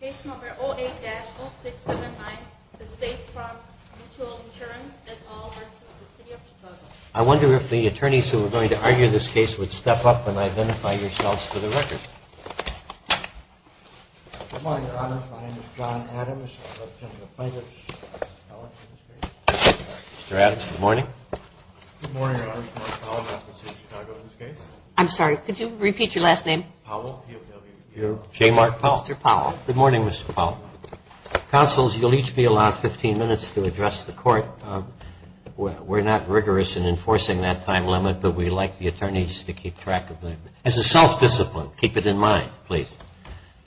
08-0679, The State Farm Mutual Insurance, et al. v. The City of Chicago I wonder if the attorneys who are going to argue this case would step up and identify yourselves for the record. Good morning, Your Honor. My name is John Adams. I represent the plaintiff's office in this case. Mr. Adams, good morning. Good morning, Your Honor. I'm Paul Powell. I represent the City of Chicago in this case. I'm sorry, could you repeat your last name? Paul, P-O-W-L. Jay Mark Powell. Mr. Powell. Good morning, Mr. Powell. Counsel, you'll each be allowed 15 minutes to address the court. We're not rigorous in enforcing that time limit, but we'd like the attorneys to keep track of it. It's a self-discipline. Keep it in mind, please.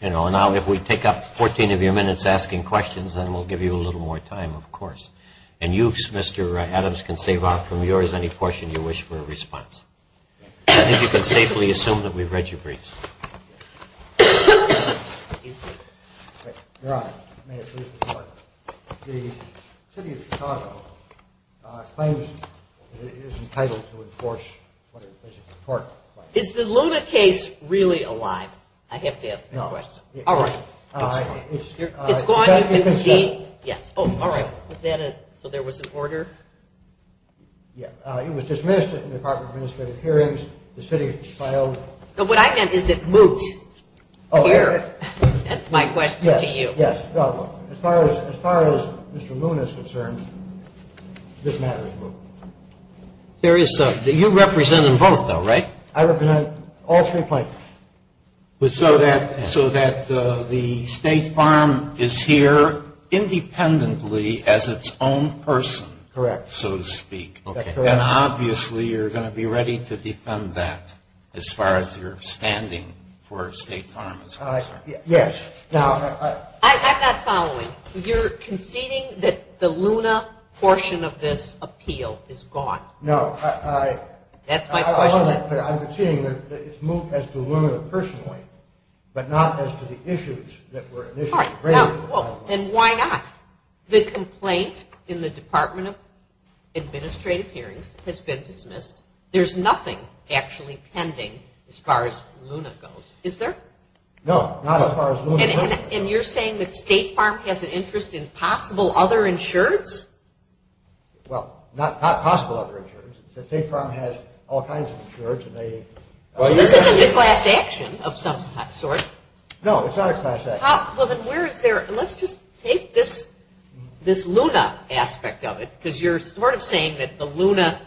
Now, if we take up 14 of your minutes asking questions, then we'll give you a little more time, of course. And you, Mr. Adams, can save up from yours any portion you wish for a response. And you can safely assume that we've read your briefs. Excuse me. Your Honor, may it please the Court, the City of Chicago claims that it is entitled to enforce what it says is important. Is the Luna case really alive? I have to ask that question. No. All right. It's gone? You can see? Yes. Oh, all right. So there was an order? Yeah. It was dismissed in the Department of Administrative Hearings. The city filed. What I get is it moot here. Oh, yes. That's my question to you. Yes. As far as Mr. Luna is concerned, this matter is moot. You represent them both, though, right? I represent all three plaintiffs. So that the State Farm is here independently as its own person. Correct. So to speak. And obviously you're going to be ready to defend that as far as you're standing for State Farm. Yes. I'm not following. You're conceding that the Luna portion of this appeal is gone? No. That's my question. I'm conceding that it's moot as to Luna personally, but not as to the issues that were initially raised. And why not? The complaint in the Department of Administrative Hearings has been dismissed. There's nothing actually pending as far as Luna goes, is there? No, not as far as Luna goes. And you're saying that State Farm has an interest in possible other insureds? Well, not possible other insureds. State Farm has all kinds of insureds. This isn't a class action of some sort. No, it's not a class action. Let's just take this Luna aspect of it, because you're sort of saying that the Luna,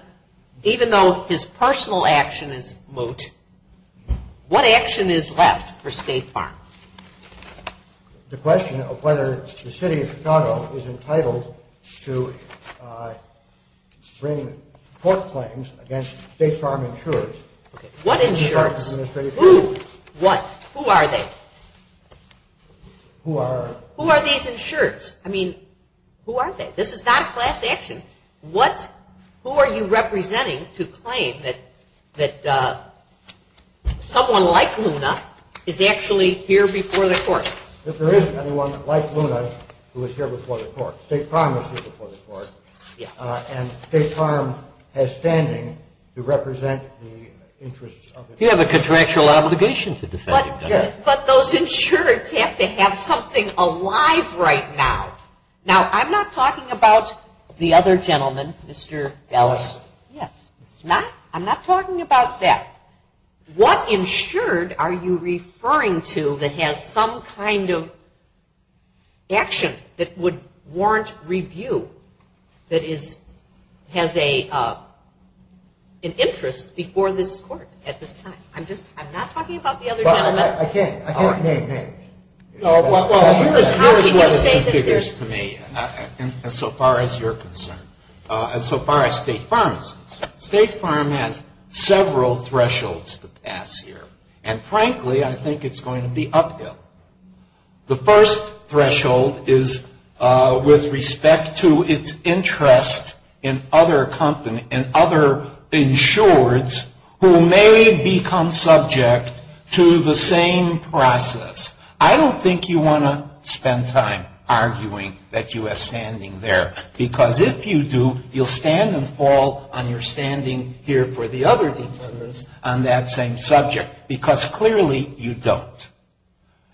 even though his personal action is moot, what action is left for State Farm? The question of whether the City of Chicago is entitled to bring court claims against State Farm insureds. What insureds? Who? What? Who are they? Who are? Who are these insureds? I mean, who are they? This is not a class action. Who are you representing to claim that someone like Luna is actually here before the court? If there is anyone like Luna who is here before the court. State Farm is here before the court. And State Farm has standing to represent the interests of the insureds. You have a contractual obligation to defend them. Yes. But those insureds have to have something alive right now. Now, I'm not talking about the other gentleman, Mr. Ellis. Yes. I'm not talking about that. What insured are you referring to that has some kind of action that would warrant review, that has an interest before this court at this time? I'm not talking about the other gentleman. I can't name names. Well, here's what it configures to me, as far as you're concerned. As far as State Farm is concerned, State Farm has several thresholds to pass here. And frankly, I think it's going to be uphill. The first threshold is with respect to its interest in other insureds who may become subject to the same process. I don't think you want to spend time arguing that you have standing there, because if you do, you'll stand and fall on your standing here for the other defendants on that same subject, because clearly you don't,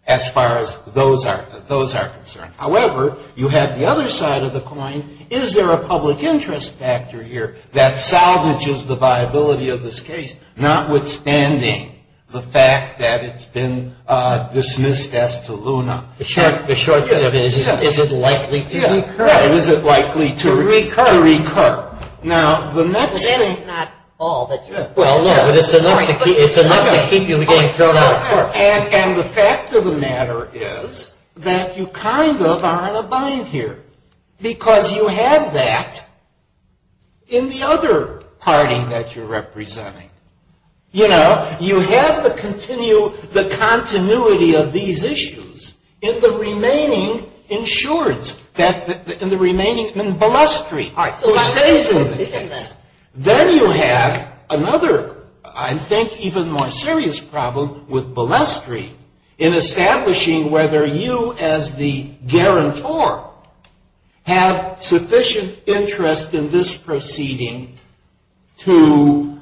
as far as those are concerned. However, you have the other side of the coin. Is there a public interest factor here that salvages the viability of this case, notwithstanding the fact that it's been dismissed as to Luna? The short cut of it is, is it likely to recur? Yeah, is it likely to recur? To recur. Now, the next thing. Well, that's not all. Well, no, but it's enough to keep you from getting thrown out of court. And the fact of the matter is that you kind of are on a bind here, because you have that in the other party that you're representing. You know, you have the continuity of these issues in the remaining insureds, in the remaining, in Balestri, who stays in the case. Then you have another, I think, even more serious problem with Balestri in establishing whether you as the guarantor have sufficient interest in this proceeding to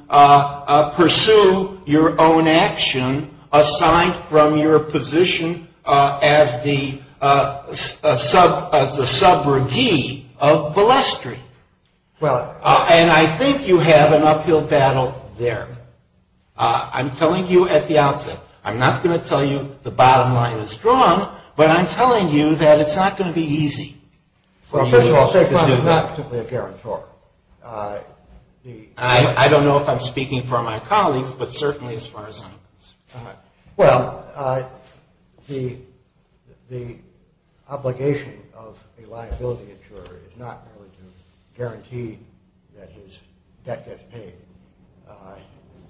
pursue your own action assigned from your position as the subrogee of Balestri. And I think you have an uphill battle there. I'm telling you at the outset, I'm not going to tell you the bottom line is strong, but I'm telling you that it's not going to be easy for you to do that. Well, first of all, State Farm is not simply a guarantor. I don't know if I'm speaking for my colleagues, but certainly as far as I'm concerned. Well, the obligation of a liability insurer is not really to guarantee that his debt gets paid.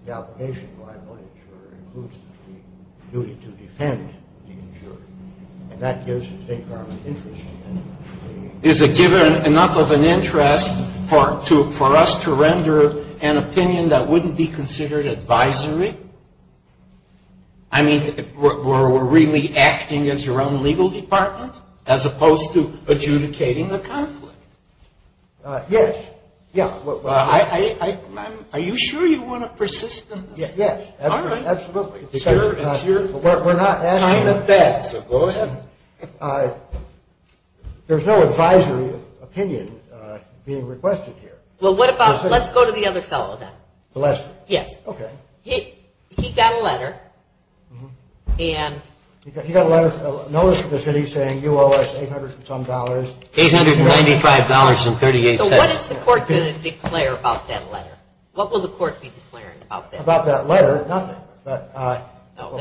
The obligation of a liability insurer includes the duty to defend the insurer, and that gives the State Farm an interest. Is it given enough of an interest for us to render an opinion that wouldn't be considered advisory? I mean, were we really acting as your own legal department as opposed to adjudicating the conflict? Yes. Are you sure you want to persist in this? Yes, absolutely. We're not asking you. Go ahead. There's no advisory opinion being requested here. Well, what about, let's go to the other fellow then. Balestri. Yes. Okay. He got a letter and... He got a letter, a notice from the city saying you owe us $800 and some dollars. $895.38. So what is the court going to declare about that letter? What will the court be declaring about that? Nothing about that letter, nothing. Then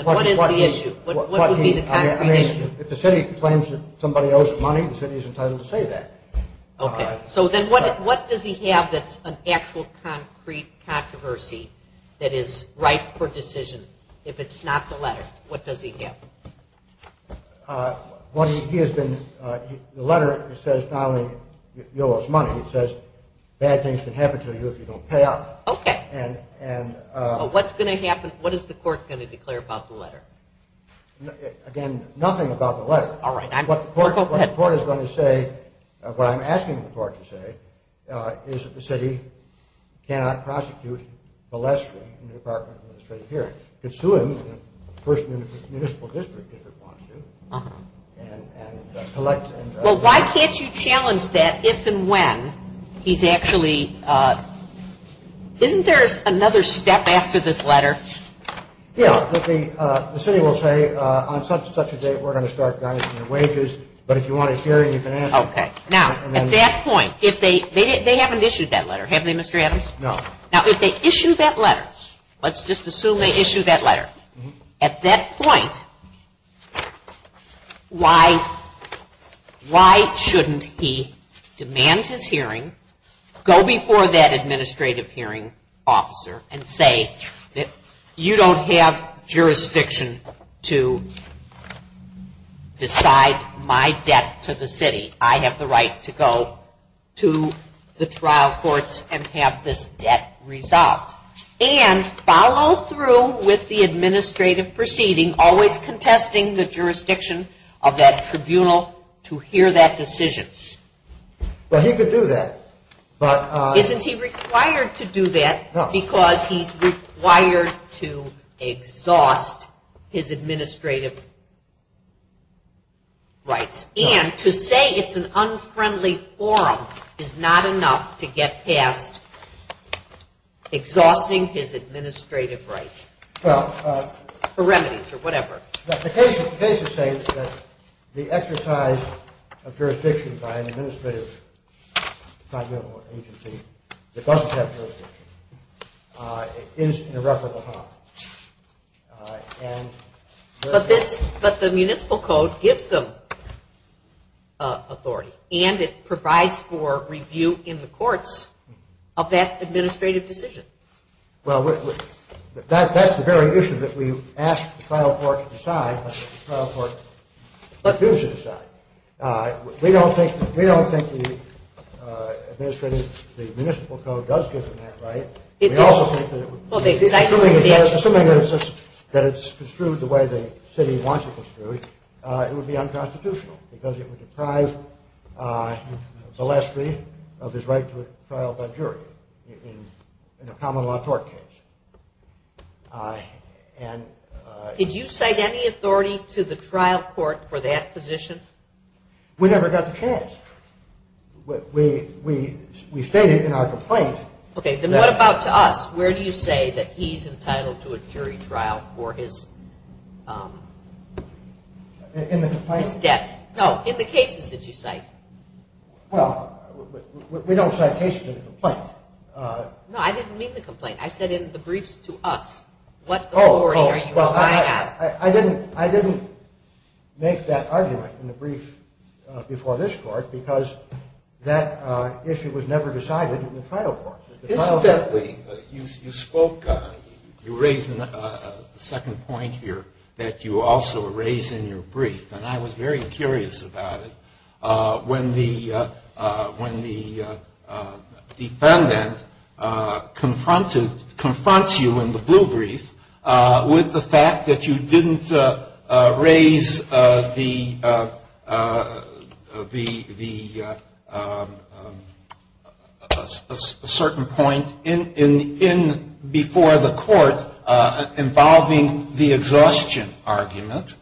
what is the issue? What would be the concrete issue? I mean, if the city claims that somebody owes it money, the city is entitled to say that. Okay. So then what does he have that's an actual concrete controversy that is ripe for decision? If it's not the letter, what does he have? The letter says not only you owe us money, it says bad things can happen to you if you don't pay up. Okay. And... What's going to happen? What is the court going to declare about the letter? Again, nothing about the letter. All right. Go ahead. What the court is going to say, what I'm asking the court to say, is that the city cannot prosecute Balestri in the Department of Administrative Hearings. It's to him, the person in the municipal district if it wants to, and collect... Is there another step after this letter? Yeah. The city will say, on such and such a date, we're going to start garnishing your wages, but if you want a hearing, you can ask... Okay. Now, at that point, if they haven't issued that letter, have they, Mr. Adams? No. Now, if they issue that letter, let's just assume they issue that letter, at that point, why shouldn't he demand his hearing, go before that administrative hearing officer, and say that you don't have jurisdiction to decide my debt to the city. I have the right to go to the trial courts and have this debt resolved. And follow through with the administrative proceeding, always contesting the jurisdiction of that tribunal to hear that decision. Well, he could do that, but... Isn't he required to do that? No. Because he's required to exhaust his administrative rights. And to say it's an unfriendly forum is not enough to get past exhausting his administrative rights. Well... Or remedies, or whatever. The case is saying that the exercise of jurisdiction by an administrative tribunal agency that doesn't have jurisdiction is an irreparable harm. And... But this... But the municipal code gives them authority, and it provides for review in the courts of that administrative decision. Well, that's the very issue that we've asked the trial court to decide, but the trial court chooses to decide. We don't think the municipal code does give them that right. Assuming that it's construed the way the city wants it construed, it would be unconstitutional because it would deprive Valesky of his right to a trial by jury in a common law court case. Did you cite any authority to the trial court for that position? We never got the chance. We stated in our complaint... What about to us? Where do you say that he's entitled to a jury trial for his debt? No, in the cases that you cite. Well, we don't cite cases in the complaint. No, I didn't mean the complaint. I said in the briefs to us. What authority are you applying at? I didn't make that argument in the brief before this court because that issue was never decided in the trial court. Incidentally, you spoke... You raised a second point here that you also raised in your brief, and I was very curious about it when the defendant confronts you in the blue brief with the fact that you didn't raise the certain point before the court involving the exhaustion argument.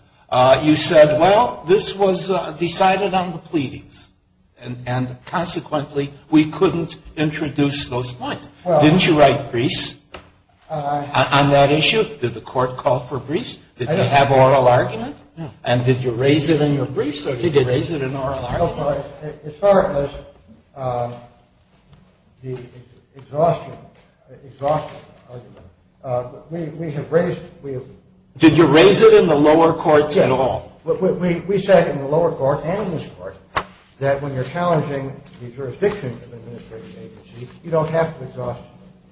You said, well, this was decided on the pleadings, and consequently we couldn't introduce those points. Didn't you write briefs on that issue? Did the court call for briefs? Did they have oral arguments? And did you raise it in your briefs or did you raise it in oral arguments? As far as the exhaustion argument, we have raised... Did you raise it in the lower courts at all? We said in the lower court and this court that when you're challenging the jurisdiction of an administrative agency, you don't have to exhaust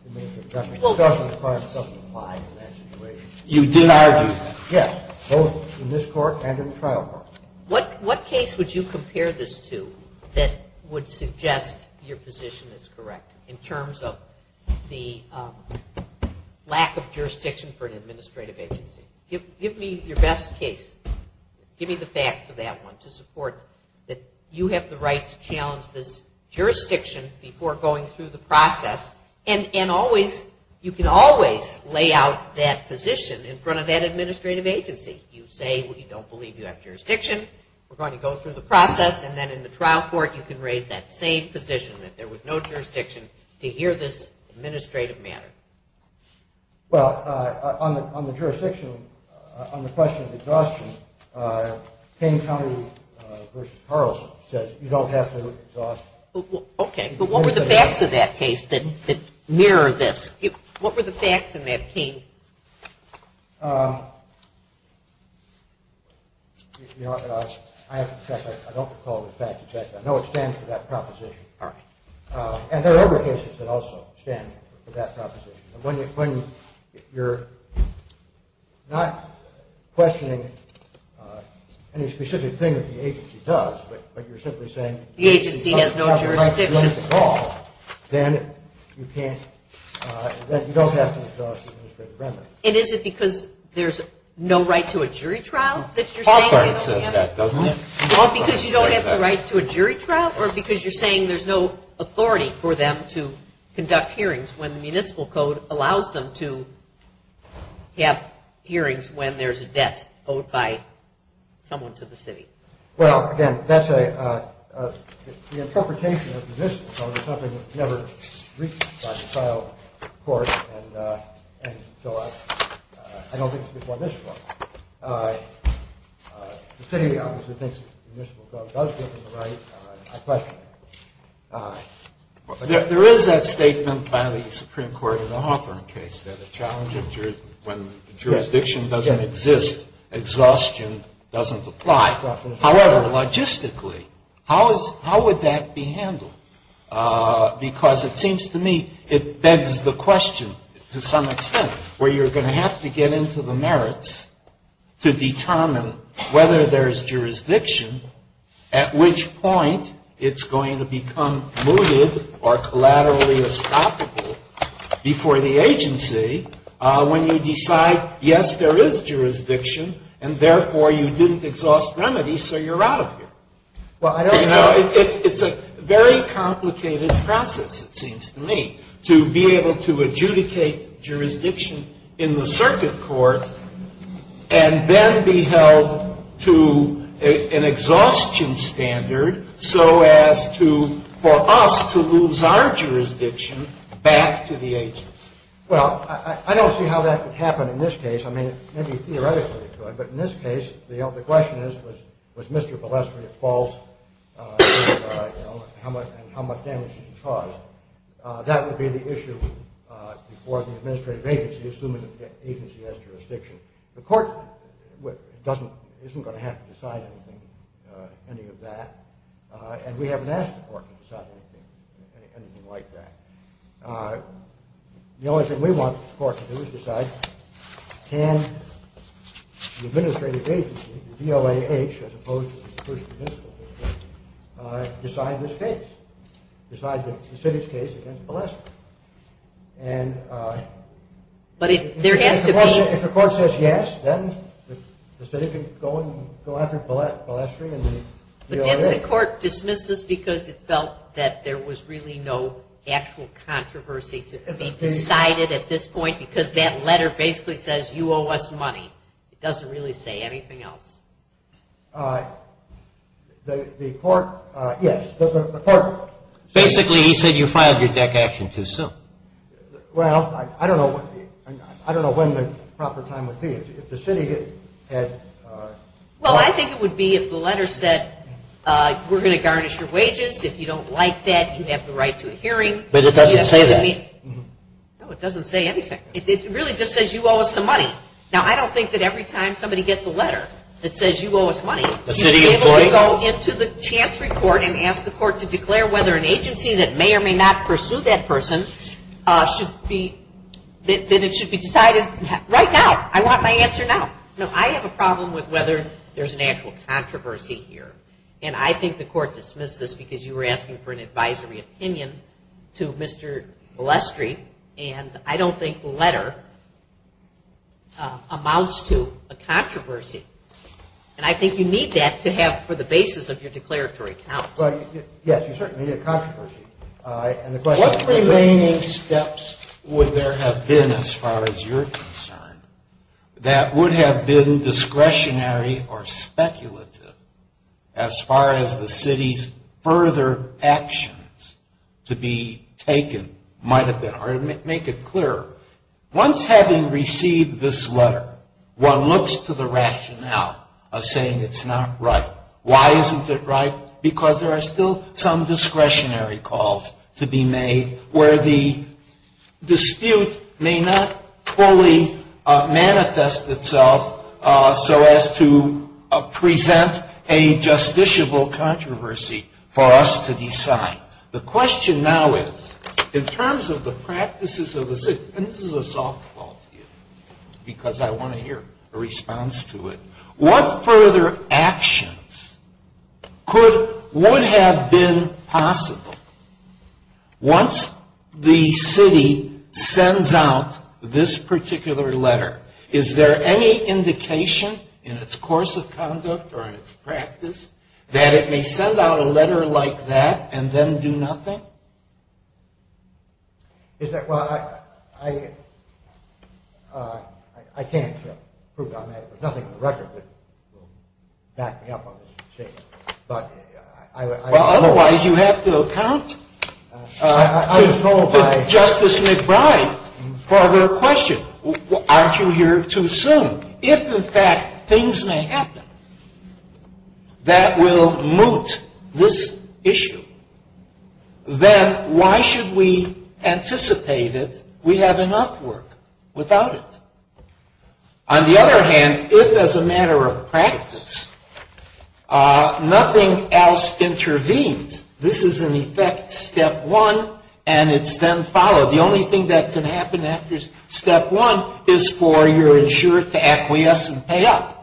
the administrative judgment. Exhaustion argument doesn't apply in that situation. You did argue... Yes, both in this court and in the trial court. What case would you compare this to that would suggest your position is correct in terms of the lack of jurisdiction for an administrative agency? Give me your best case. Give me the facts of that one to support that you have the right to challenge this jurisdiction before going through the process. And you can always lay out that position in front of that administrative agency. You say you don't believe you have jurisdiction, we're going to go through the process, and then in the trial court you can raise that same position that there was no jurisdiction to hear this administrative matter. Well, on the question of exhaustion, Kane County v. Carlson says you don't have to exhaust... But what were the facts of that case that mirror this? What were the facts in that, Kane? I don't recall the facts. I know it stands for that proposition. And there are other cases that also stand for that proposition. When you're not questioning any specific thing that the agency does, but you're simply saying the agency has no jurisdiction at all, then you don't have to exhaust the administrative remedy. And is it because there's no right to a jury trial that you're saying that? The court says that, doesn't it? Well, because you don't have the right to a jury trial, or because you're saying there's no authority for them to conduct hearings when the municipal code allows them to have hearings when there's a debt owed by someone to the city? Well, again, that's the interpretation of the municipal code. It's something that's never reached by the trial court, and so I don't think it's before the municipal court. The city obviously thinks the municipal code does give them the right... There is that statement by the Supreme Court in the Hawthorne case that when jurisdiction doesn't exist, exhaustion doesn't apply. However, logistically, how would that be handled? Because it seems to me it begs the question to some extent, where you're going to have to get into the merits to determine whether there's jurisdiction, at which point it's going to become mooted or collaterally estoppable before the agency when you decide, yes, there is jurisdiction, and therefore you didn't exhaust remedies, so you're out of here. Well, I don't know. It's a very complicated process, it seems to me, to be able to adjudicate jurisdiction in the circuit court and then be held to an exhaustion standard so as to, for us to lose our jurisdiction back to the agency. Well, I don't see how that would happen in this case. I mean, maybe theoretically it would, but in this case, the question is, was Mr. Balestre at fault and how much damage did he cause? That would be the issue before the administrative agency, assuming the agency has jurisdiction. The court isn't going to have to decide anything, any of that, and we haven't asked the court to decide anything like that. The only thing we want the court to do is decide, can the administrative agency, the DOAH, as opposed to the District Municipal District, decide this case, decide the city's case against Balestre? If the court says yes, then the city can go after Balestre and the DOAH. Didn't the court dismiss this because it felt that there was really no actual controversy? They decided at this point because that letter basically says, you owe us money. It doesn't really say anything else. The court, yes. Basically, he said you filed your deck action too soon. Well, I don't know when the proper time would be. Well, I think it would be if the letter said we're going to garnish your wages. If you don't like that, you have the right to a hearing. But it doesn't say that. No, it doesn't say anything. It really just says you owe us some money. Now, I don't think that every time somebody gets a letter that says you owe us money, you should be able to go into the chancery court and ask the court to declare whether an agency that may or may not pursue that person should be, that it should be decided right now. I want my answer now. No, I have a problem with whether there's an actual controversy here. And I think the court dismissed this because you were asking for an advisory opinion to Mr. Blestry, and I don't think the letter amounts to a controversy. And I think you need that to have for the basis of your declaratory counsel. Yes, you certainly need a controversy. What remaining steps would there have been, as far as you're concerned, that would have been discretionary or speculative as far as the city's further actions to be taken might have been? Or to make it clearer, once having received this letter, one looks to the rationale of saying it's not right. Why isn't it right? Because there are still some discretionary calls to be made where the dispute may not fully manifest itself so as to present a justiciable controversy for us to decide. The question now is, in terms of the practices of the city, and this is a softball to you because I want to hear a response to it, what further actions would have been possible once the city sends out this particular letter? Is there any indication in its course of conduct or in its practice that it may send out a letter like that and then do nothing? Well, I can't prove it on that. There's nothing on the record that will back me up on this. Well, otherwise you have to account to Justice McBride for the question. Aren't you here too soon? If, in fact, things may happen that will moot this issue, then why should we anticipate it we have enough work without it? On the other hand, if, as a matter of practice, nothing else intervenes, this is in effect step one and it's then followed. The only thing that can happen after step one is for your insurer to acquiesce and pay up.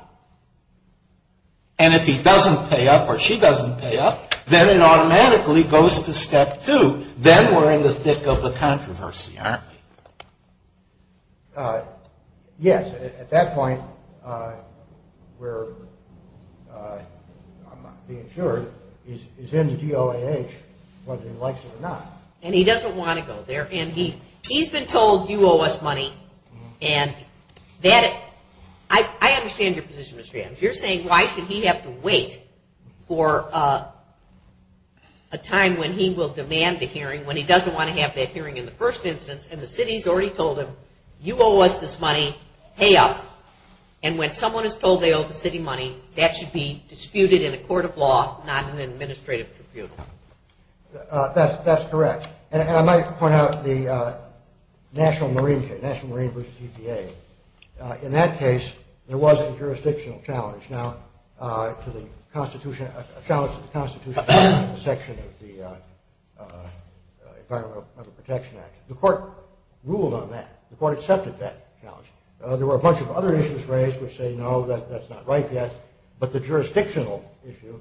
And if he doesn't pay up or she doesn't pay up, then it automatically goes to step two. Then we're in the thick of the controversy, aren't we? Yes. At that point, we're, I'm not being sure, is in the DOAH whether he likes it or not. And he doesn't want to go there. And he's been told, you owe us money. And that, I understand your position, Mr. Adams. You're saying why should he have to wait for a time when he will demand the hearing when he doesn't want to have that hearing in the first instance and the city's already told him, you owe us this money, pay up. And when someone is told they owe the city money, that should be disputed in a court of law, not in an administrative tribunal. That's correct. And I might point out the National Marine, National Marine versus EPA. In that case, there was a jurisdictional challenge. Now, to the Constitution, a challenge to the Constitution, the section of the Environmental Protection Act, the court ruled on that. The court accepted that challenge. There were a bunch of other issues raised which say, no, that's not right yet. But the jurisdictional issue,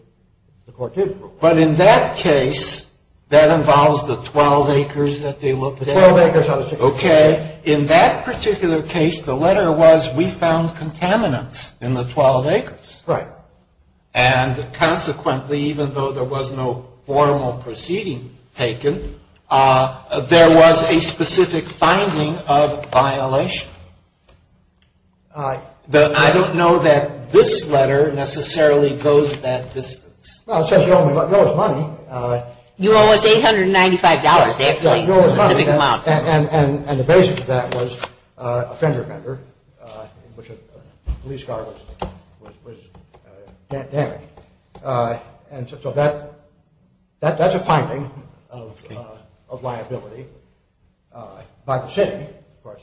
the court did rule. But in that case, that involves the 12 acres that they looked at. Okay. In that particular case, the letter was, we found contaminants in the 12 acres. Right. And consequently, even though there was no formal proceeding taken, there was a specific finding of violation. I don't know that this letter necessarily goes that distance. Well, it says you owe us money. You owe us $895. They have to tell you the specific amount. And the basis of that was a fender bender, which a police car was damaged. And so that's a finding of liability by the city, of course.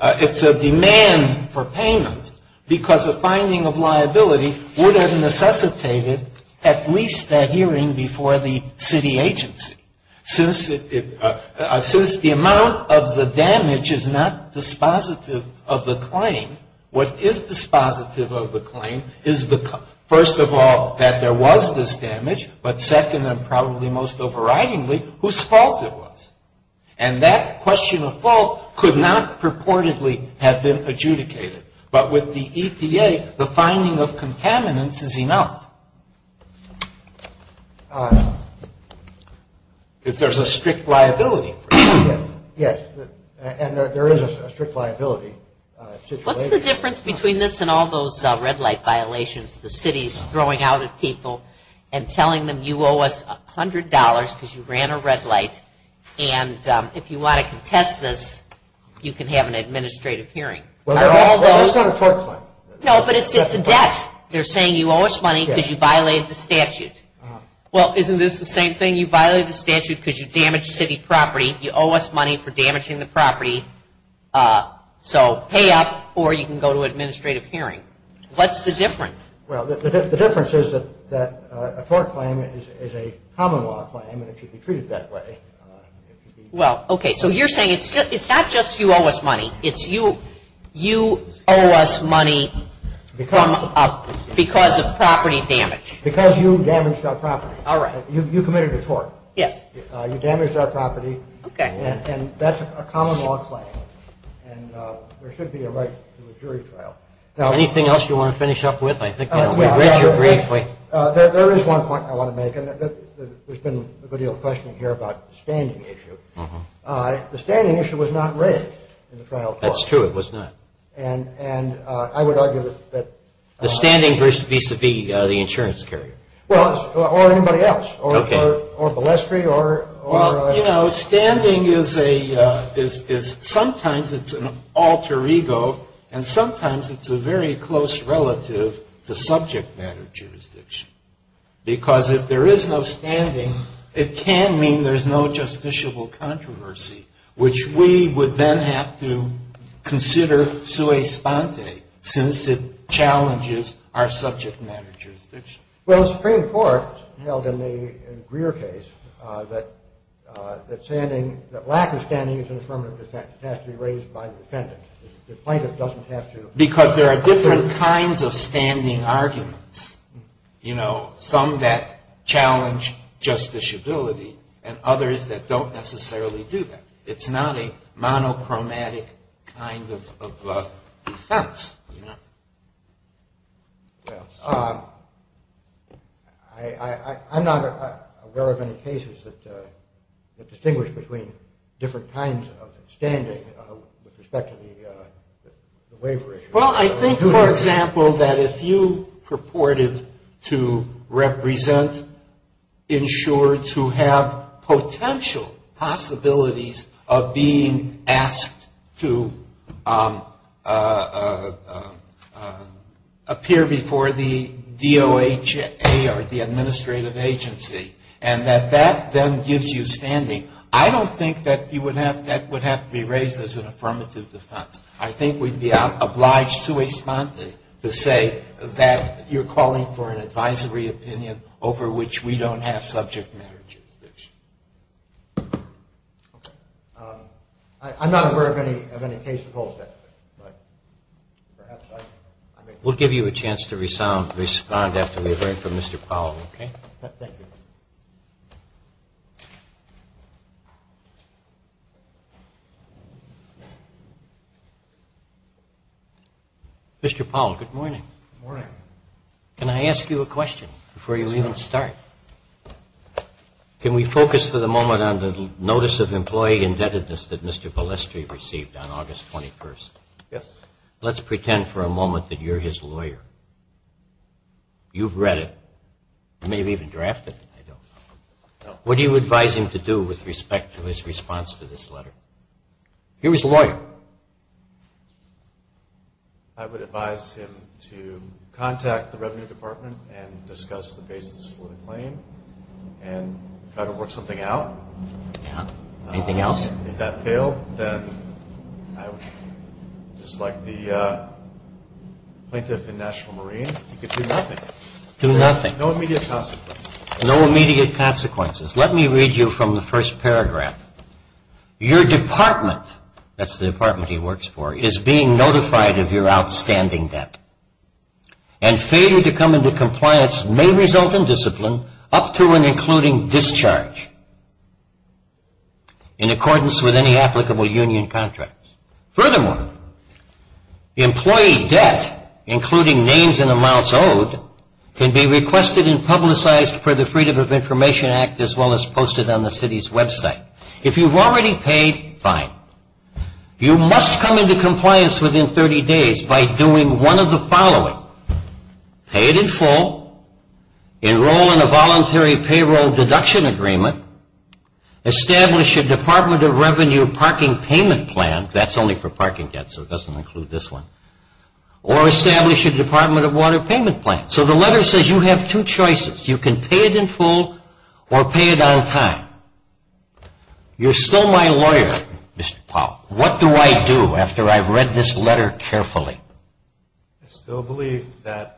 It's a demand for payment because a finding of liability would have necessitated at least that hearing before the city agency. Since the amount of the damage is not dispositive of the claim, what is dispositive of the claim is, first of all, that there was this damage, but second and probably most overridingly, whose fault it was. And that question of fault could not purportedly have been adjudicated. But with the EPA, the finding of contaminants is enough. There's a strict liability. Yes. And there is a strict liability situation. What's the difference between this and all those red light violations, the cities throwing out at people and telling them you owe us $100 because you ran a And if you want to contest this, you can have an administrative hearing. Well, there's not a tort claim. No, but it's a debt. They're saying you owe us money because you violated the statute. Well, isn't this the same thing? You violated the statute because you damaged city property. You owe us money for damaging the property. So pay up or you can go to an administrative hearing. What's the difference? Well, the difference is that a tort claim is a common law claim and it should be treated that way. Well, okay, so you're saying it's not just you owe us money. It's you owe us money because of property damage. Because you damaged our property. All right. You committed a tort. Yes. You damaged our property. Okay. And that's a common law claim. And there should be a right to a jury trial. Anything else you want to finish up with? I think we've read you briefly. There is one point I want to make. There's been a good deal of questioning here about the standing issue. The standing issue was not raised in the trial court. That's true. It was not. And I would argue that... The standing versus vis-a-vis the insurance carrier. Well, or anybody else. Okay. Or ballestry or... Well, you know, standing is sometimes it's an alter ego and sometimes it's a very close relative to subject matter jurisdiction. Because if there is no standing, it can mean there's no justiciable controversy, which we would then have to consider sui sponte since it challenges our subject matter jurisdiction. Well, the Supreme Court held in the Greer case that standing, that lack of standing is an affirmative defense. It has to be raised by the defendant. The plaintiff doesn't have to... Because there are different kinds of standing arguments, you know, some that challenge justiciability and others that don't necessarily do that. It's not a monochromatic kind of defense. Yes. I'm not aware of any cases that distinguish between different kinds of standing with respect to the waiver issue. Well, I think, for example, that if you purported to represent insured to have potential possibilities of being asked to appear before the DOHA or the administrative agency and that that then gives you standing, I don't think that that would have to be raised as an affirmative defense. I think we'd be obliged sui sponte to say that you're calling for an advisory opinion over which we don't have subject matter jurisdiction. I'm not aware of any case that holds that. We'll give you a chance to respond after we hear from Mr. Powell, okay? Thank you. Good morning. Good morning. Can I ask you a question before you even start? Can we focus for the moment on the Notice of Employee Indebtedness that Mr. Palestri received on August 21st? Yes. Let's pretend for a moment that you're his lawyer. You've read it. You may have even drafted it. What do you advise him to do with respect to his response to this letter? He was a lawyer. I would advise him to contact the Revenue Department and discuss the basis for the claim and try to work something out. Yeah. Anything else? If that failed, then just like the plaintiff in National Marine, you could do nothing. Do nothing. No immediate consequences. No immediate consequences. Let me read you from the first paragraph. Your department, that's the department he works for, is being notified of your outstanding debt and failure to come into compliance may result in discipline up to and including discharge in accordance with any applicable union contracts. Furthermore, employee debt, including names and amounts owed, can be requested and publicized for the Freedom of Information Act as well as posted on the city's website. If you've already paid, fine. You must come into compliance within 30 days by doing one of the following. Pay it in full. Enroll in a voluntary payroll deduction agreement. Establish a Department of Revenue parking payment plan. That's only for parking debts, so it doesn't include this one. Or establish a Department of Water payment plan. So the letter says you have two choices. You can pay it in full or pay it on time. You're still my lawyer, Mr. Powell. What do I do after I've read this letter carefully? I still believe that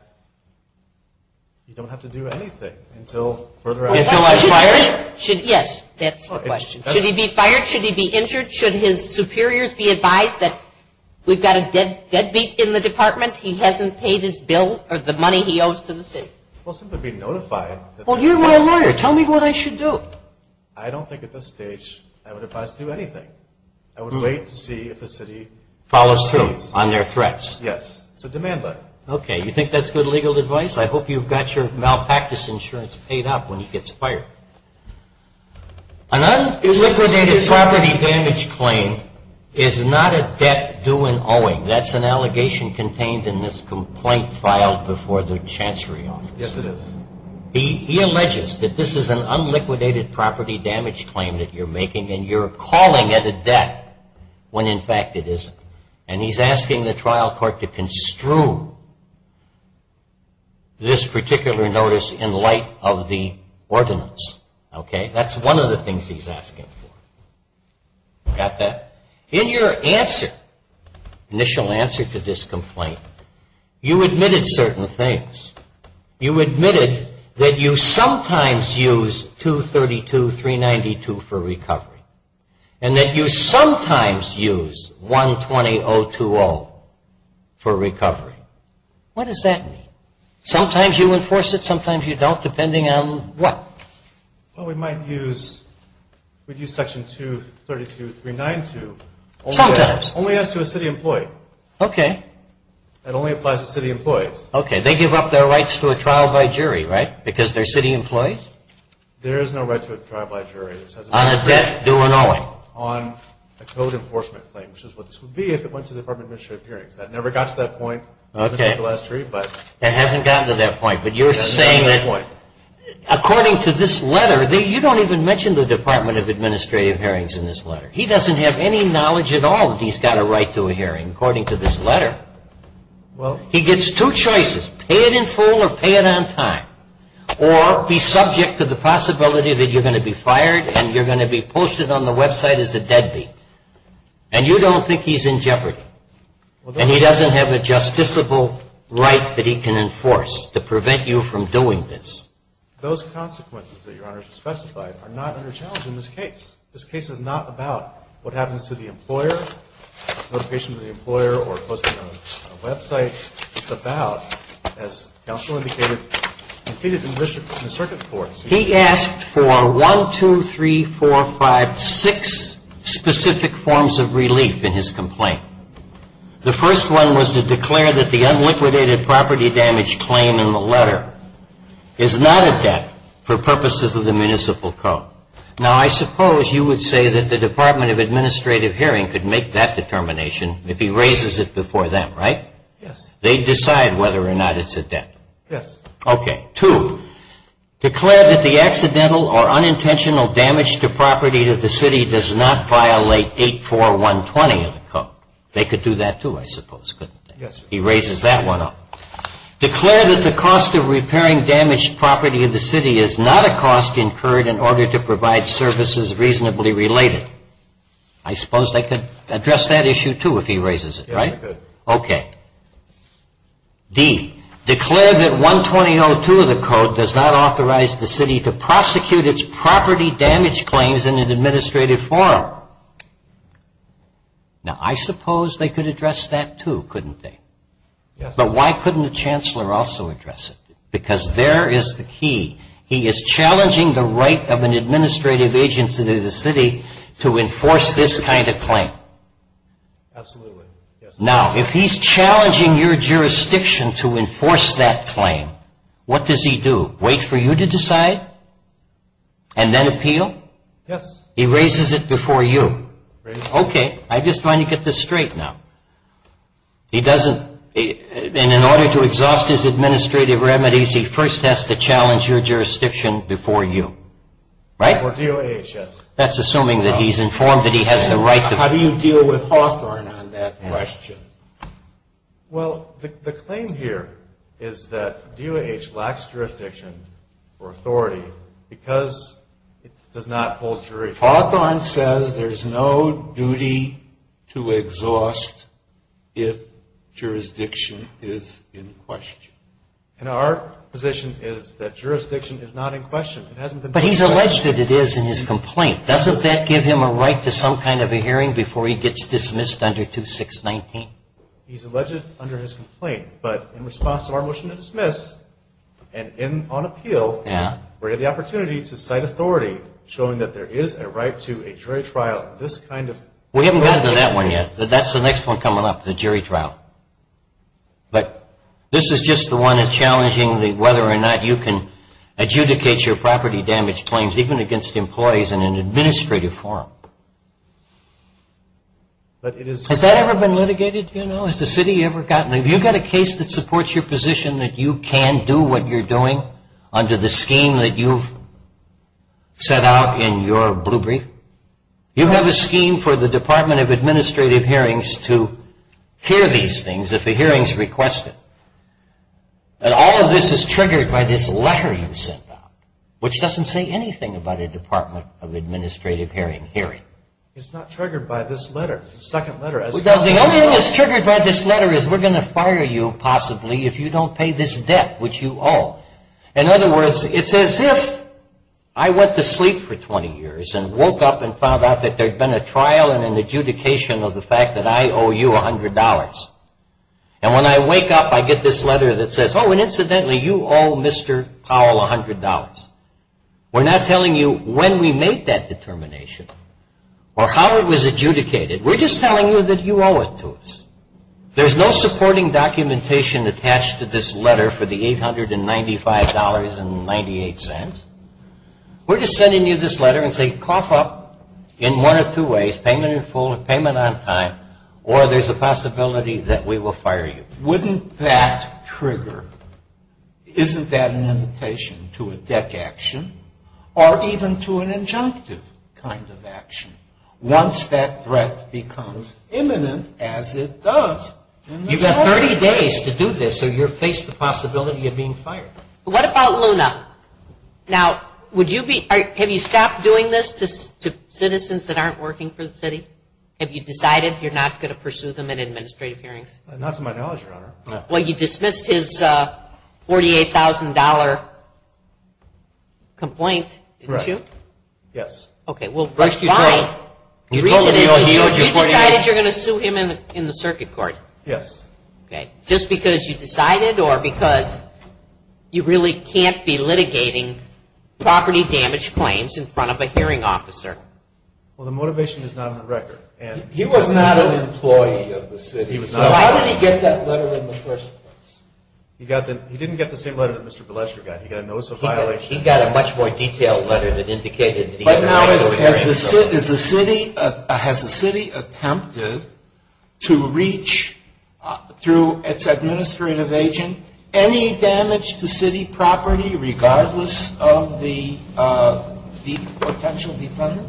you don't have to do anything until further advice. Until I fire you? Yes, that's the question. Should he be fired? Should he be injured? Should his superiors be advised that we've got a deadbeat in the department? He hasn't paid his bill or the money he owes to the city. We'll simply be notified. Well, you're my lawyer. Tell me what I should do. I don't think at this stage I would advise to do anything. I would wait to see if the city follows through on their threats. Yes. It's a demand letter. Okay. You think that's good legal advice? I hope you've got your malpractice insurance paid up when he gets fired. An un-liquidated property damage claim is not a debt due and owing. That's an allegation contained in this complaint filed before the Chancery Office. Yes, it is. He alleges that this is an un-liquidated property damage claim that you're making and you're calling it a debt when, in fact, it isn't. And he's asking the trial court to construe this particular notice in light of the ordinance. Okay? That's one of the things he's asking for. Got that? In your answer, initial answer to this complaint, you admitted certain things. You admitted that you sometimes use 232.392 for recovery and that you sometimes use 120.020 for recovery. What does that mean? Sometimes you enforce it, sometimes you don't, depending on what? Well, we might use section 232.392. Sometimes. Only as to a city employee. Okay. That only applies to city employees. Okay. They give up their rights to a trial by jury, right, because they're city employees? There is no right to a trial by jury. On a debt due and owing? On a code enforcement claim, which is what this would be if it went to the Department of Administrative Hearings. That never got to that point. Okay. It hasn't gotten to that point, but you're saying that According to this letter, you don't even mention the Department of Administrative Hearings in this letter. He doesn't have any knowledge at all that he's got a right to a hearing, according to this letter. He gets two choices, pay it in full or pay it on time, or be subject to the possibility that you're going to be fired and you're going to be posted on the website as a deadbeat. And you don't think he's in jeopardy. And he doesn't have a justiciable right that he can enforce to prevent you from doing this. Those consequences that Your Honor has specified are not under challenge in this case. This case is not about what happens to the employer, notification to the employer, or posting on a website. It's about, as counsel indicated, defeated in the circuit court. specific forms of relief in his complaint. The first one was to declare that the unliquidated property damage claim in the letter is not a debt for purposes of the municipal code. Now, I suppose you would say that the Department of Administrative Hearing could make that determination if he raises it before them, right? Yes. They decide whether or not it's a debt. Yes. Okay. Two, declare that the accidental or unintentional damage to property of the city does not violate 84120 of the code. They could do that, too, I suppose, couldn't they? Yes. He raises that one up. Declare that the cost of repairing damaged property of the city is not a cost incurred in order to provide services reasonably related. I suppose they could address that issue, too, if he raises it, right? Yes, they could. Okay. D, declare that 12002 of the code does not authorize the city to prosecute its property damage claims in an administrative forum. Now, I suppose they could address that, too, couldn't they? Yes. But why couldn't the chancellor also address it? Because there is the key. He is challenging the right of an administrative agency to the city to enforce this kind of claim. Absolutely. Now, if he's challenging your jurisdiction to enforce that claim, what does he do? Wait for you to decide? And then appeal? Yes. He raises it before you? Raises it. Okay. I just want to get this straight now. He doesn't, in order to exhaust his administrative remedies, he first has to challenge your jurisdiction before you, right? Before DOHS. That's assuming that he's informed that he has the right to. How do you deal with Hawthorne on that question? Well, the claim here is that DOH lacks jurisdiction or authority because it does not hold jurisdiction. Hawthorne says there's no duty to exhaust if jurisdiction is in question. And our position is that jurisdiction is not in question. But he's alleged that it is in his complaint. Doesn't that give him a right to some kind of a hearing before he gets dismissed under 2619? He's alleged under his complaint. But in response to our motion to dismiss and on appeal, we have the opportunity to cite authority, showing that there is a right to a jury trial, this kind of... We haven't gotten to that one yet. That's the next one coming up, the jury trial. But this is just the one that's challenging whether or not you can adjudicate your property damage claims, even against employees, in an administrative form. Has that ever been litigated? Has the city ever gotten... Have you got a case that supports your position that you can do what you're doing under the scheme that you've set out in your blue brief? You have a scheme for the Department of Administrative Hearings to hear these things if a hearing is requested. And all of this is triggered by this letter you sent out, which doesn't say anything about a Department of Administrative Hearing hearing. It's not triggered by this letter, the second letter. The only thing that's triggered by this letter is we're going to fire you, possibly, if you don't pay this debt which you owe. In other words, it's as if I went to sleep for 20 years and woke up and found out that there had been a trial and an adjudication of the fact that I owe you $100. And when I wake up, I get this letter that says, oh, and incidentally, you owe Mr. Powell $100. We're not telling you when we made that determination or how it was adjudicated. We're just telling you that you owe it to us. There's no supporting documentation attached to this letter for the $895.98. We're just sending you this letter and saying cough up in one of two ways, payment in full or payment on time, or there's a possibility that we will fire you. Wouldn't that trigger? Isn't that an invitation to a debt action or even to an injunctive kind of action once that threat becomes imminent, as it does? You've got 30 days to do this or you'll face the possibility of being fired. What about Luna? Now, would you be – have you stopped doing this to citizens that aren't working for the city? Have you decided you're not going to pursue them in administrative hearings? Not to my knowledge, Your Honor. Well, you dismissed his $48,000 complaint, didn't you? Correct. Yes. Okay. Well, why? We told him he owed you $48,000. You decided you're going to sue him in the circuit court? Yes. Okay. Just because you decided or because you really can't be litigating property damage claims in front of a hearing officer? Well, the motivation is not on the record. He was not an employee of the city. So how did he get that letter in the first place? He didn't get the same letter that Mr. Blesher got. He got a notice of violation. He got a much more detailed letter that indicated that he had a right to go to hearings. Now, has the city attempted to reach through its administrative agent any damage to city property regardless of the potential defendant?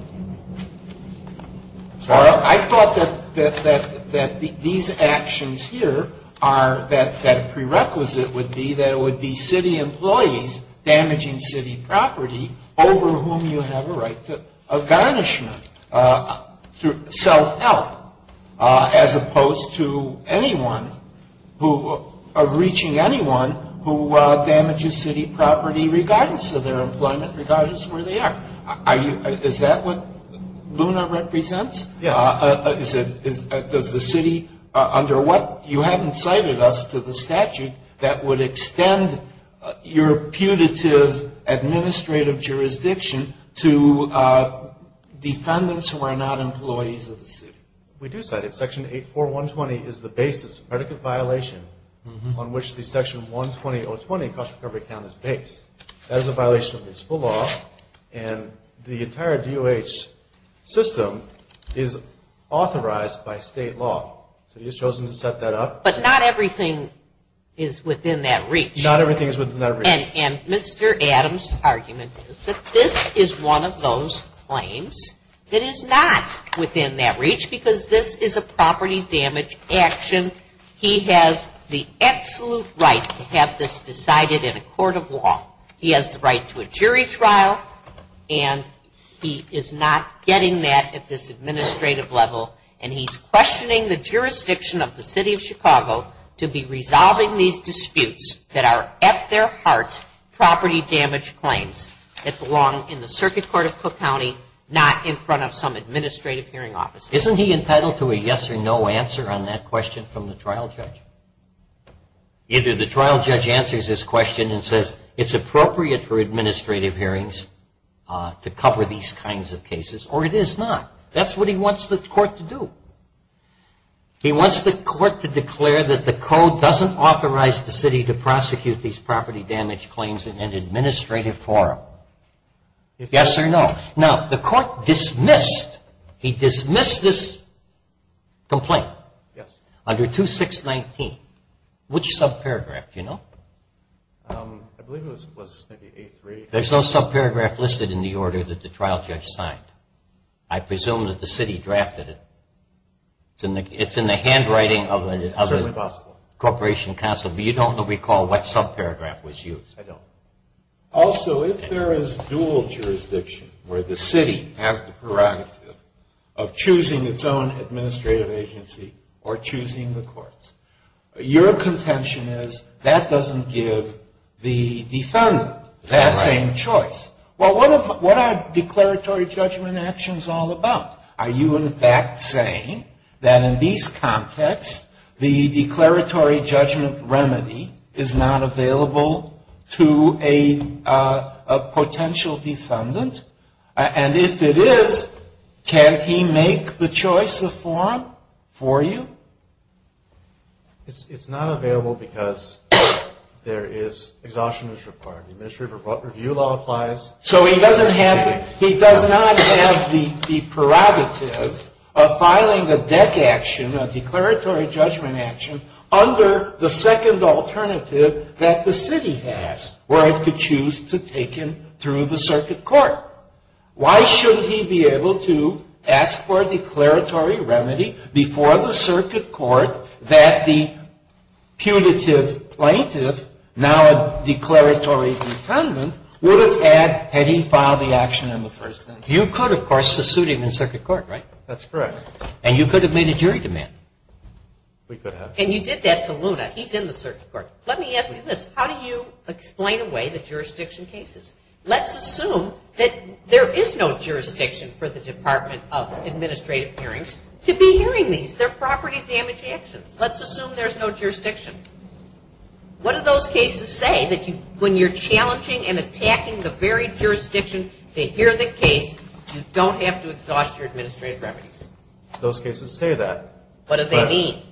Well, I thought that these actions here are, that a prerequisite would be that it would be city employees damaging city property over whom you have a right to garnishment, self-help, as opposed to anyone who, of reaching anyone who damages city property regardless of their employment, regardless of where they are. Is that what LUNA represents? Yes. Does the city, under what you haven't cited us to the statute that would extend your putative administrative jurisdiction to defendants who are not employees of the city? We do cite it. Section 84120 is the basis of predicate violation on which the Section 120.020 cost recovery account is based. That is a violation of municipal law, and the entire DOH system is authorized by state law. So you've chosen to set that up. But not everything is within that reach. Not everything is within that reach. And Mr. Adams' argument is that this is one of those claims that is not within that reach because this is a property damage action. He has the absolute right to have this decided in a court of law. He has the right to a jury trial, and he is not getting that at this administrative level. And he's questioning the jurisdiction of the city of Chicago to be resolving these disputes that are at their heart property damage claims that belong in the Circuit Court of Cook County, not in front of some administrative hearing office. Isn't he entitled to a yes or no answer on that question from the trial judge? Either the trial judge answers his question and says it's appropriate for administrative hearings to cover these kinds of cases, or it is not. That's what he wants the court to do. He wants the court to declare that the code doesn't authorize the city to prosecute these property damage claims in an administrative forum. Yes or no. Now, the court dismissed. He dismissed this complaint. Yes. Under 2619. Which subparagraph? Do you know? I believe it was maybe 8-3. There's no subparagraph listed in the order that the trial judge signed. I presume that the city drafted it. It's in the handwriting of the Corporation Counsel, but you don't recall what subparagraph was used. I don't. Also, if there is dual jurisdiction where the city has the prerogative of choosing its own administrative agency or choosing the courts, your contention is that doesn't give the defendant that same choice. Well, what are declaratory judgment actions all about? Are you, in fact, saying that in these contexts, the declaratory judgment remedy is not available to a potential defendant? And if it is, can't he make the choice of forum for you? It's not available because there is exhaustion as required. The administrative review law applies. So he doesn't have the prerogative of filing a DEC action, a declaratory judgment action, under the second alternative that the city has, where it could choose to take him through the circuit court. Why shouldn't he be able to ask for a declaratory remedy before the circuit court that the punitive plaintiff, now a declaratory defendant, would have had had he filed the action in the first instance? You could, of course, have sued him in circuit court, right? That's correct. And you could have made a jury demand. We could have. And you did that to Luna. He's in the circuit court. Let me ask you this. How do you explain away the jurisdiction cases? Let's assume that there is no jurisdiction for the Department of Administrative Hearings to be hearing these. They're property damage actions. Let's assume there's no jurisdiction. What do those cases say that when you're challenging and attacking the very jurisdiction to hear the case, you don't have to exhaust your administrative remedies? Those cases say that. What do they mean?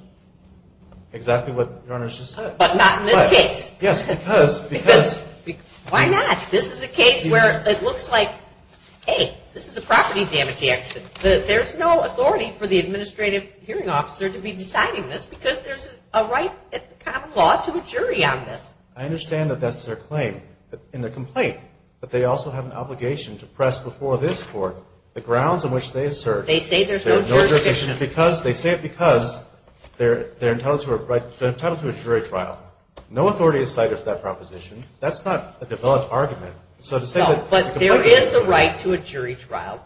Exactly what Your Honor just said. But not in this case. Yes, because. Why not? This is a case where it looks like, hey, this is a property damage action. There's no authority for the administrative hearing officer to be deciding this because there's a right at the common law to a jury on this. I understand that that's their claim in the complaint. But they also have an obligation to press before this court the grounds on which they assert. They say there's no jurisdiction. They say it because they're entitled to a jury trial. No authority is cited for that proposition. That's not a developed argument. No, but there is a right to a jury trial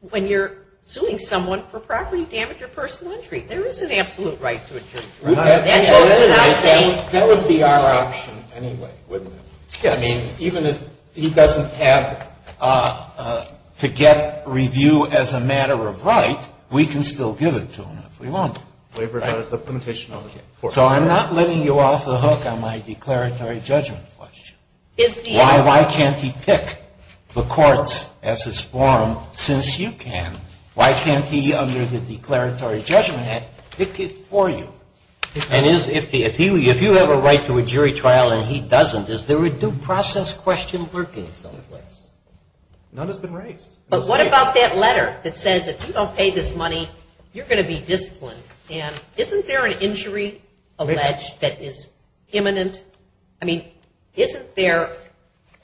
when you're suing someone for property damage or personal injury. There is an absolute right to a jury trial. That would be our option anyway, wouldn't it? Yes. I mean, even if he doesn't have to get review as a matter of right, we can still give it to him if we want. Waivers are a limitation on the court. So I'm not letting you off the hook on my declaratory judgment question. Why can't he pick the courts as his forum since you can? Why can't he, under the Declaratory Judgment Act, pick it for you? And if you have a right to a jury trial and he doesn't, is there a due process question lurking someplace? None has been raised. But what about that letter that says if you don't pay this money, you're going to be disciplined? And isn't there an injury alleged that is imminent? I mean, isn't there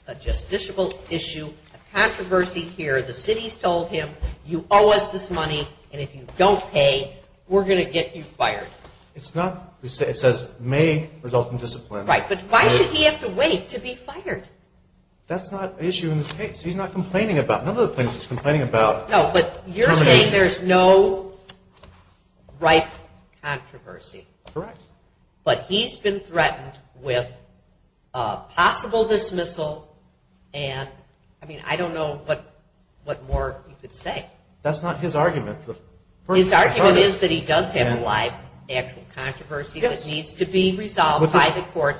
a justiciable issue, a controversy here? The city's told him, you owe us this money, and if you don't pay, we're going to get you fired. It's not. It says may result in discipline. Right. But why should he have to wait to be fired? That's not an issue in this case. He's not complaining about it. None of the plaintiffs is complaining about termination. No, but you're saying there's no right controversy. Correct. But he's been threatened with possible dismissal and, I mean, I don't know what more you could say. That's not his argument. His argument is that he does have a live actual controversy that needs to be resolved by the court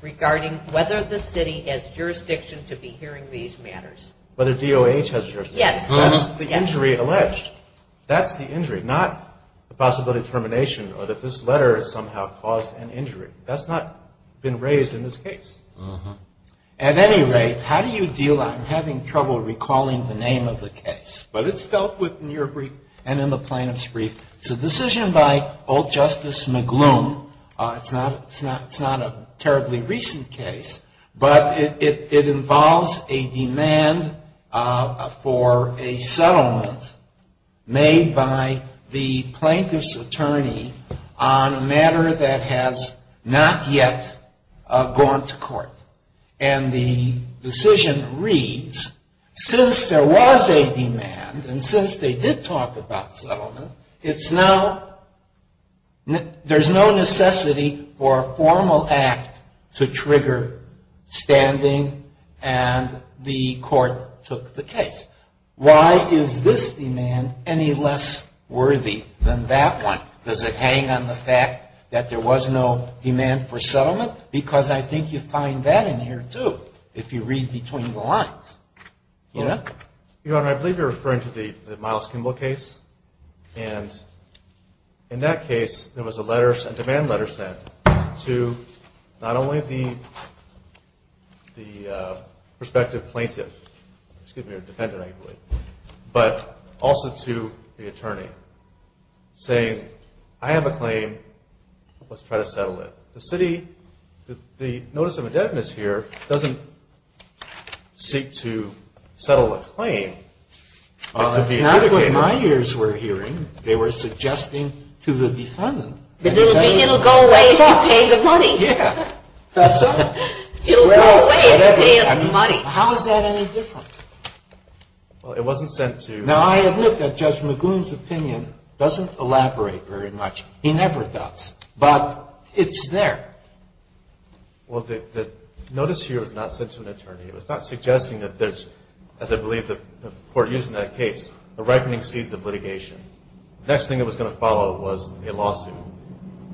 regarding whether the city has jurisdiction to be hearing these matters. Whether DOH has jurisdiction. Yes. That's the injury alleged. That's the injury, not the possibility of termination or that this letter has somehow caused an injury. That's not been raised in this case. At any rate, how do you deal with having trouble recalling the name of the case? But it's dealt with in your brief and in the plaintiff's brief. It's a decision by Old Justice McGloon. It's not a terribly recent case, but it involves a demand for a settlement made by the plaintiff's attorney on a matter that has not yet gone to court. And the decision reads, since there was a demand and since they did talk about settlement, it's now, there's no necessity for a formal act to trigger standing and the court took the case. Why is this demand any less worthy than that one? Does it hang on the fact that there was no demand for settlement? Because I think you find that in here, too, if you read between the lines. Your Honor, I believe you're referring to the Miles Kimball case. And in that case, there was a demand letter sent to not only the prospective plaintiff, but also to the attorney, saying, I have a claim. Let's try to settle it. The notice of indebtedness here doesn't seek to settle a claim. Well, that's not what my ears were hearing. They were suggesting to the defendant. It'll go away if you pay the money. Yeah. It'll go away if you pay us money. How is that any different? Well, it wasn't sent to. Now, I admit that Judge McGloon's opinion doesn't elaborate very much. He never does. But it's there. Well, the notice here was not sent to an attorney. It was not suggesting that there's, as I believe the court used in that case, the ripening seeds of litigation. The next thing that was going to follow was a lawsuit.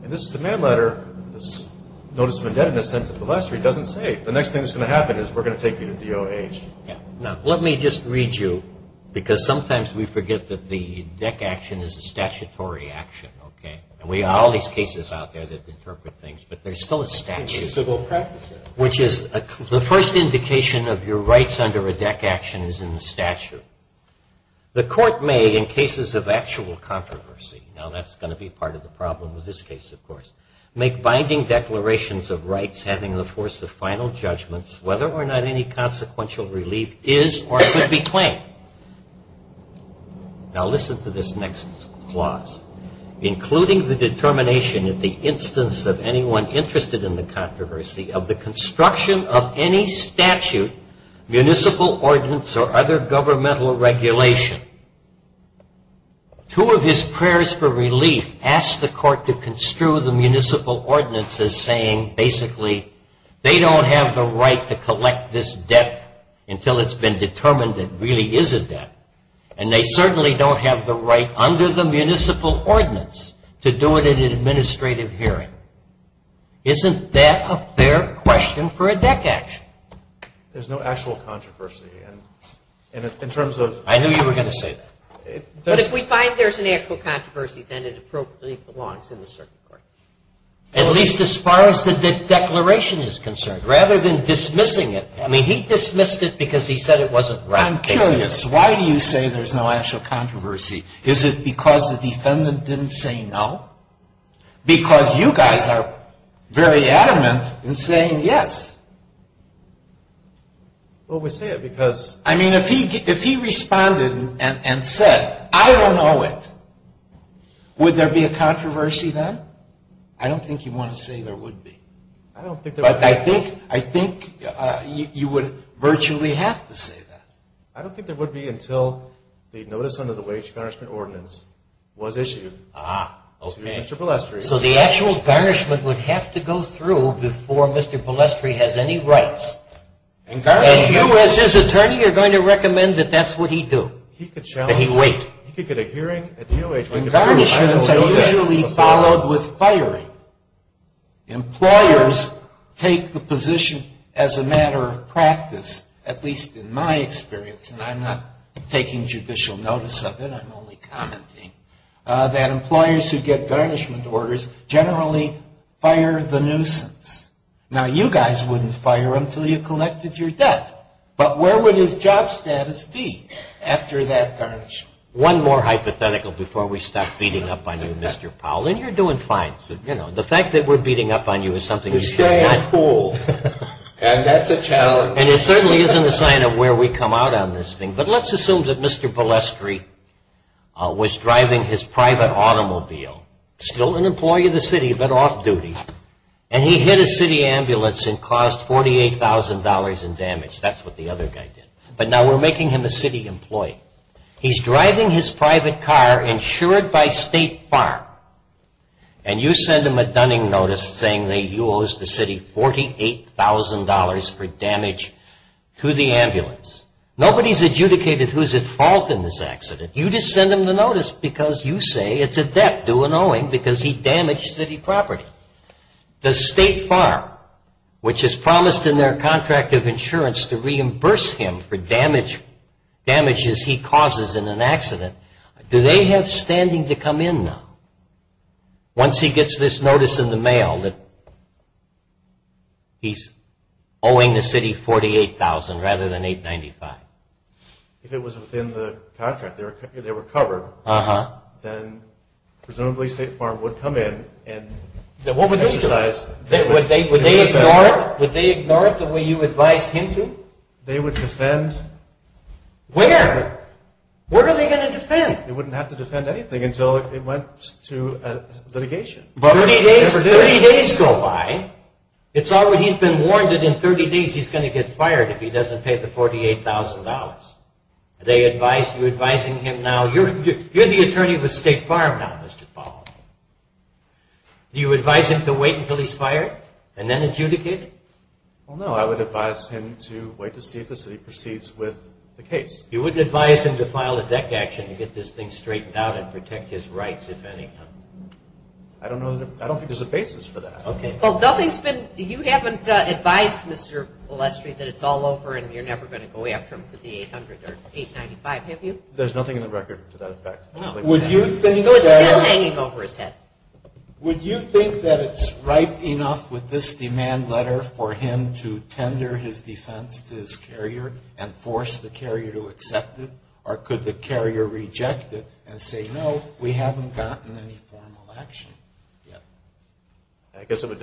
And this demand letter, this notice of indebtedness sent to the lessor, he doesn't say. The next thing that's going to happen is we're going to take you to DOH. Yeah. Now, let me just read you, because sometimes we forget that the DEC action is a statutory action, okay? And we have all these cases out there that interpret things, but there's still a statute. It's a civil practice act. Which is the first indication of your rights under a DEC action is in the statute. The court may, in cases of actual controversy, now that's going to be part of the problem with this case, of course, make binding declarations of rights having the force of final judgments, whether or not any consequential relief is or could be claimed. Now, listen to this next clause. Including the determination, in the instance of anyone interested in the controversy, of the construction of any statute, municipal ordinance, or other governmental regulation. Two of his prayers for relief asked the court to construe the municipal ordinance as saying, basically, they don't have the right to collect this debt until it's been determined it really is a debt. And they certainly don't have the right under the municipal ordinance to do it in an administrative hearing. Isn't that a fair question for a DEC action? There's no actual controversy in terms of... I knew you were going to say that. But if we find there's an actual controversy, then it appropriately belongs in the circuit court. At least as far as the DEC declaration is concerned. Rather than dismissing it, I mean, he dismissed it because he said it wasn't right. I'm curious. Why do you say there's no actual controversy? Is it because the defendant didn't say no? Because you guys are very adamant in saying yes. Well, we say it because... I mean, if he responded and said, I don't know it, would there be a controversy then? I don't think you want to say there would be. But I think you would virtually have to say that. I don't think there would be until the notice under the wage garnishment ordinance was issued to Mr. Polestri. So the actual garnishment would have to go through before Mr. Polestri has any rights. And you as his attorney are going to recommend that that's what he do? That he wait. He could get a hearing at the O.H. And garnishments are usually followed with firing. Employers take the position as a matter of practice, at least in my experience, and I'm not taking judicial notice of it, I'm only commenting, that employers who get garnishment orders generally fire the nuisance. Now, you guys wouldn't fire until you collected your debt. But where would his job status be after that garnishment? One more hypothetical before we stop beating up on you, Mr. Powell. And you're doing fine. The fact that we're beating up on you is something you should not do. You're staying cool. And that's a challenge. And it certainly isn't a sign of where we come out on this thing. But let's assume that Mr. Polestri was driving his private automobile, still an employee of the city but off-duty, and he hit a city ambulance and caused $48,000 in damage. That's what the other guy did. But now we're making him a city employee. He's driving his private car, insured by State Farm, and you send him a dunning notice saying that you owe the city $48,000 for damage to the ambulance. Nobody's adjudicated who's at fault in this accident. You just send him the notice because you say it's a debt due and owing because he damaged city property. Does State Farm, which has promised in their contract of insurance to reimburse him for damages he causes in an accident, do they have standing to come in now once he gets this notice in the mail that he's owing the city $48,000 rather than $895,000? If it was within the contract, they were covered, then presumably State Farm would come in and exercise... Would they ignore it the way you advised him to? They would defend... Where? Where are they going to defend? They wouldn't have to defend anything until it went to litigation. Thirty days go by. He's been warned that in 30 days he's going to get fired if he doesn't pay the $48,000. Are you advising him now... You're the attorney with State Farm now, Mr. Powell. Do you advise him to wait until he's fired and then adjudicate? No, I would advise him to wait to see if the city proceeds with the case. You wouldn't advise him to file a deck action to get this thing straightened out and protect his rights, if any? I don't think there's a basis for that. You haven't advised Mr. O'Lestry that it's all over and you're never going to go after him for the $800,000 or $895,000, have you? There's nothing in the record to that effect. So it's still hanging over his head? Would you think that it's ripe enough with this demand letter for him to tender his defense to his carrier and force the carrier to accept it? Or could the carrier reject it and say, no, we haven't gotten any formal action yet?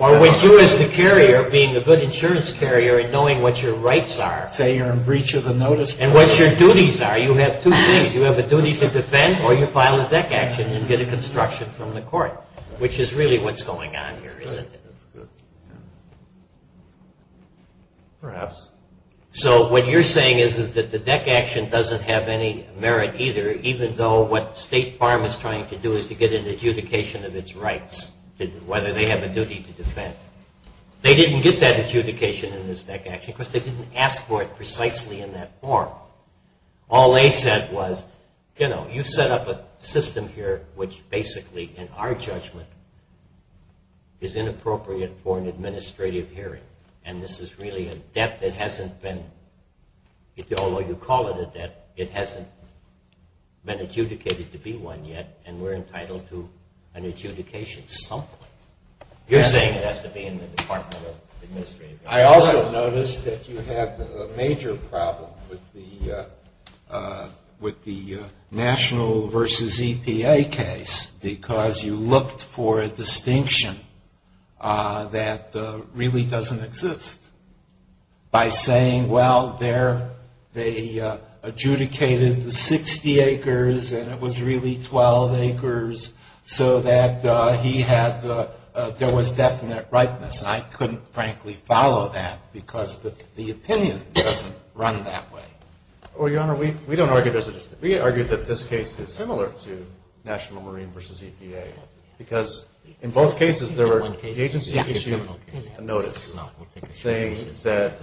Or would you as the carrier, being a good insurance carrier and knowing what your rights are... Say you're in breach of the notice... And what your duties are. You have two things. You have a duty to defend or you file a deck action and get a construction from the court, which is really what's going on here, isn't it? Perhaps. So what you're saying is that the deck action doesn't have any merit either, even though what State Farm is trying to do is to get an adjudication of its rights, whether they have a duty to defend. They didn't get that adjudication in this deck action because they didn't ask for it precisely in that form. All they said was, you know, you set up a system here which basically, in our judgment, is inappropriate for an administrative hearing. And this is really a debt that hasn't been... been adjudicated to be one yet, and we're entitled to an adjudication someplace. You're saying it has to be in the Department of Administrative Affairs. I also noticed that you have a major problem with the national versus EPA case because you looked for a distinction that really doesn't exist. By saying, well, they adjudicated the 60 acres, and it was really 12 acres, so that he had... there was definite rightness. And I couldn't, frankly, follow that because the opinion doesn't run that way. Well, Your Honor, we don't argue... we argue that this case is similar to national marine versus EPA because in both cases, the agency issued a notice saying that,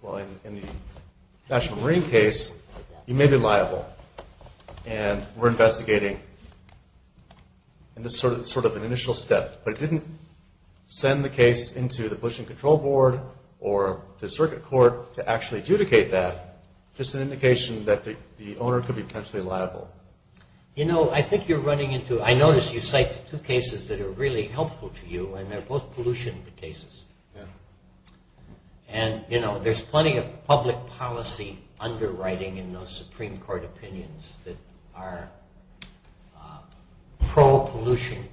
well, in the national marine case, you may be liable. And we're investigating, and this is sort of an initial step, but it didn't send the case into the pollution control board or the circuit court to actually adjudicate that, just an indication that the owner could be potentially liable. You know, I think you're running into... I noticed you cite two cases that are really helpful to you, and they're both pollution cases. And, you know, there's plenty of public policy underwriting in those Supreme Court opinions that are pro-pollution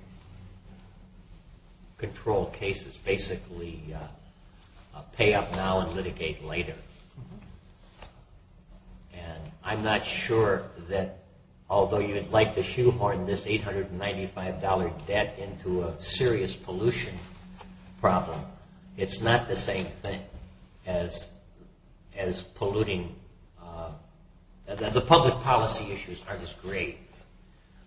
control cases, basically pay up now and litigate later. And I'm not sure that, although you'd like to shoehorn this $895 debt into a serious pollution problem, it's not the same thing as polluting... the public policy issues aren't as great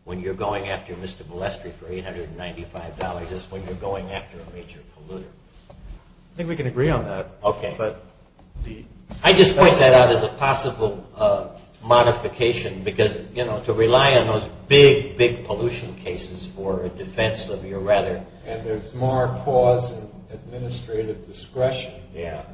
when you're going after Mr. Molestri for $895 as when you're going after a major polluter. I think we can agree on that. Okay. But the... I just point that out as a possible modification, because, you know, to rely on those big, big pollution cases for a defense of your rather... And there's more cause and administrative discretion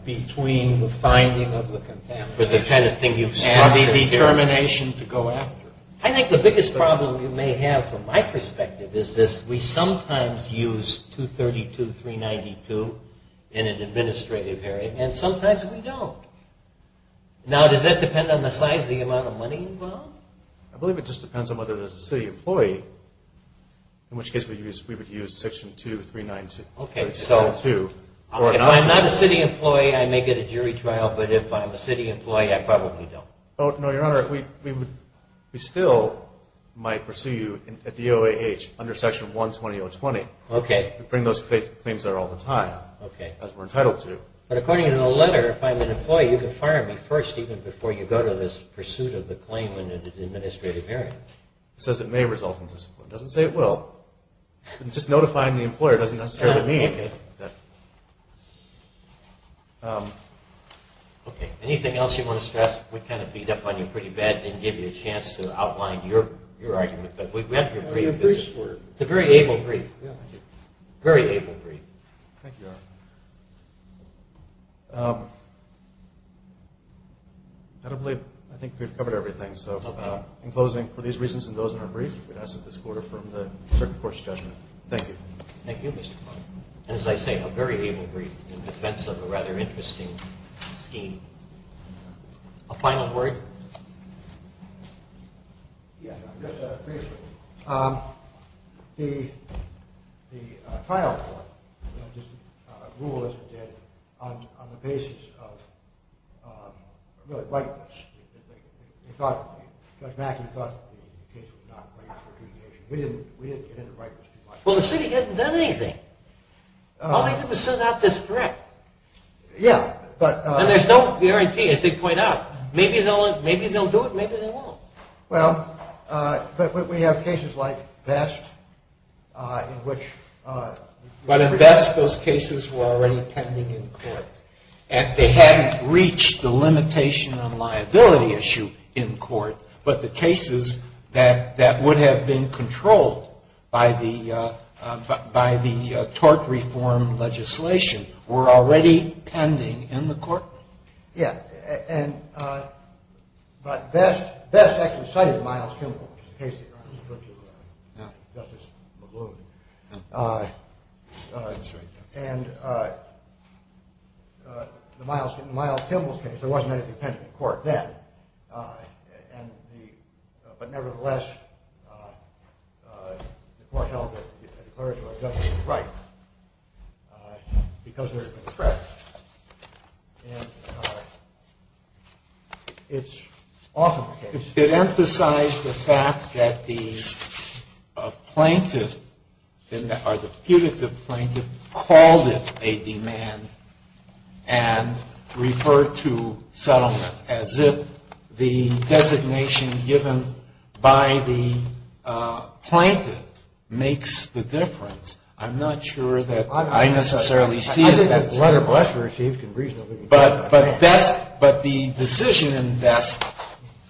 between the finding of the contamination... But the kind of thing you've structured... And the determination to go after it. I think the biggest problem you may have, from my perspective, is this. We sometimes use 232, 392 in an administrative area, and sometimes we don't. Now, does that depend on the size of the amount of money involved? I believe it just depends on whether there's a city employee, in which case we would use section 2, 392. Okay, so if I'm not a city employee, I may get a jury trial, but if I'm a city employee, I probably don't. No, Your Honor. We still might pursue you at the OAH under section 120.020. Okay. We bring those claims there all the time, as we're entitled to. But according to the letter, if I'm an employee, you can fire me first, even before you go to this pursuit of the claim in an administrative area. It says it may result in discipline. It doesn't say it will. Just notifying the employer doesn't necessarily mean that... Okay. Anything else you want to stress? We kind of beat up on you pretty bad and didn't give you a chance to outline your argument, but we've read your brief. It's a very able brief. Yeah, thank you. Very able brief. Thank you, Your Honor. I don't believe, I think we've covered everything. So in closing, for these reasons and those in our brief, we'd ask that this court affirm the circuit court's judgment. Thank you. Thank you, Mr. Clark. As I say, a very able brief in defense of a rather interesting scheme. A final word? Yeah. Briefly. The trial court rule as it did on the basis of, really, rightness. Judge Mackey thought the case was not right for appreciation. We didn't get into rightness too much. Well, the city hasn't done anything. All they did was send out this threat. Yeah, but... And there's no guarantee, as they point out. Maybe they'll do it, maybe they won't. Well, but we have cases like Vest in which... But in Vest, those cases were already pending in court, and they hadn't reached the limitation on liability issue in court, but the cases that would have been controlled by the tort reform legislation were already pending in the court. Yeah, and Vest actually cited Miles Kimball, which is the case that Justice McLoone... That's right. And in Miles Kimball's case, there wasn't anything pending in court then. And the... But nevertheless, the court held that the clerk or the judge was right because there had been a threat. And it's often the case... It emphasized the fact that the plaintiff or the punitive plaintiff called it a demand and referred to settlement as if the designation given by the plaintiff makes the difference. I'm not sure that I necessarily see it that way. I think that letter of lesson received can reasonably... But the decision in Vest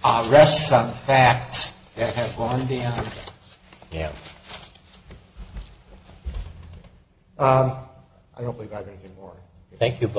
rests on facts that have gone down. Yeah. I don't believe I have anything more. Thank you both.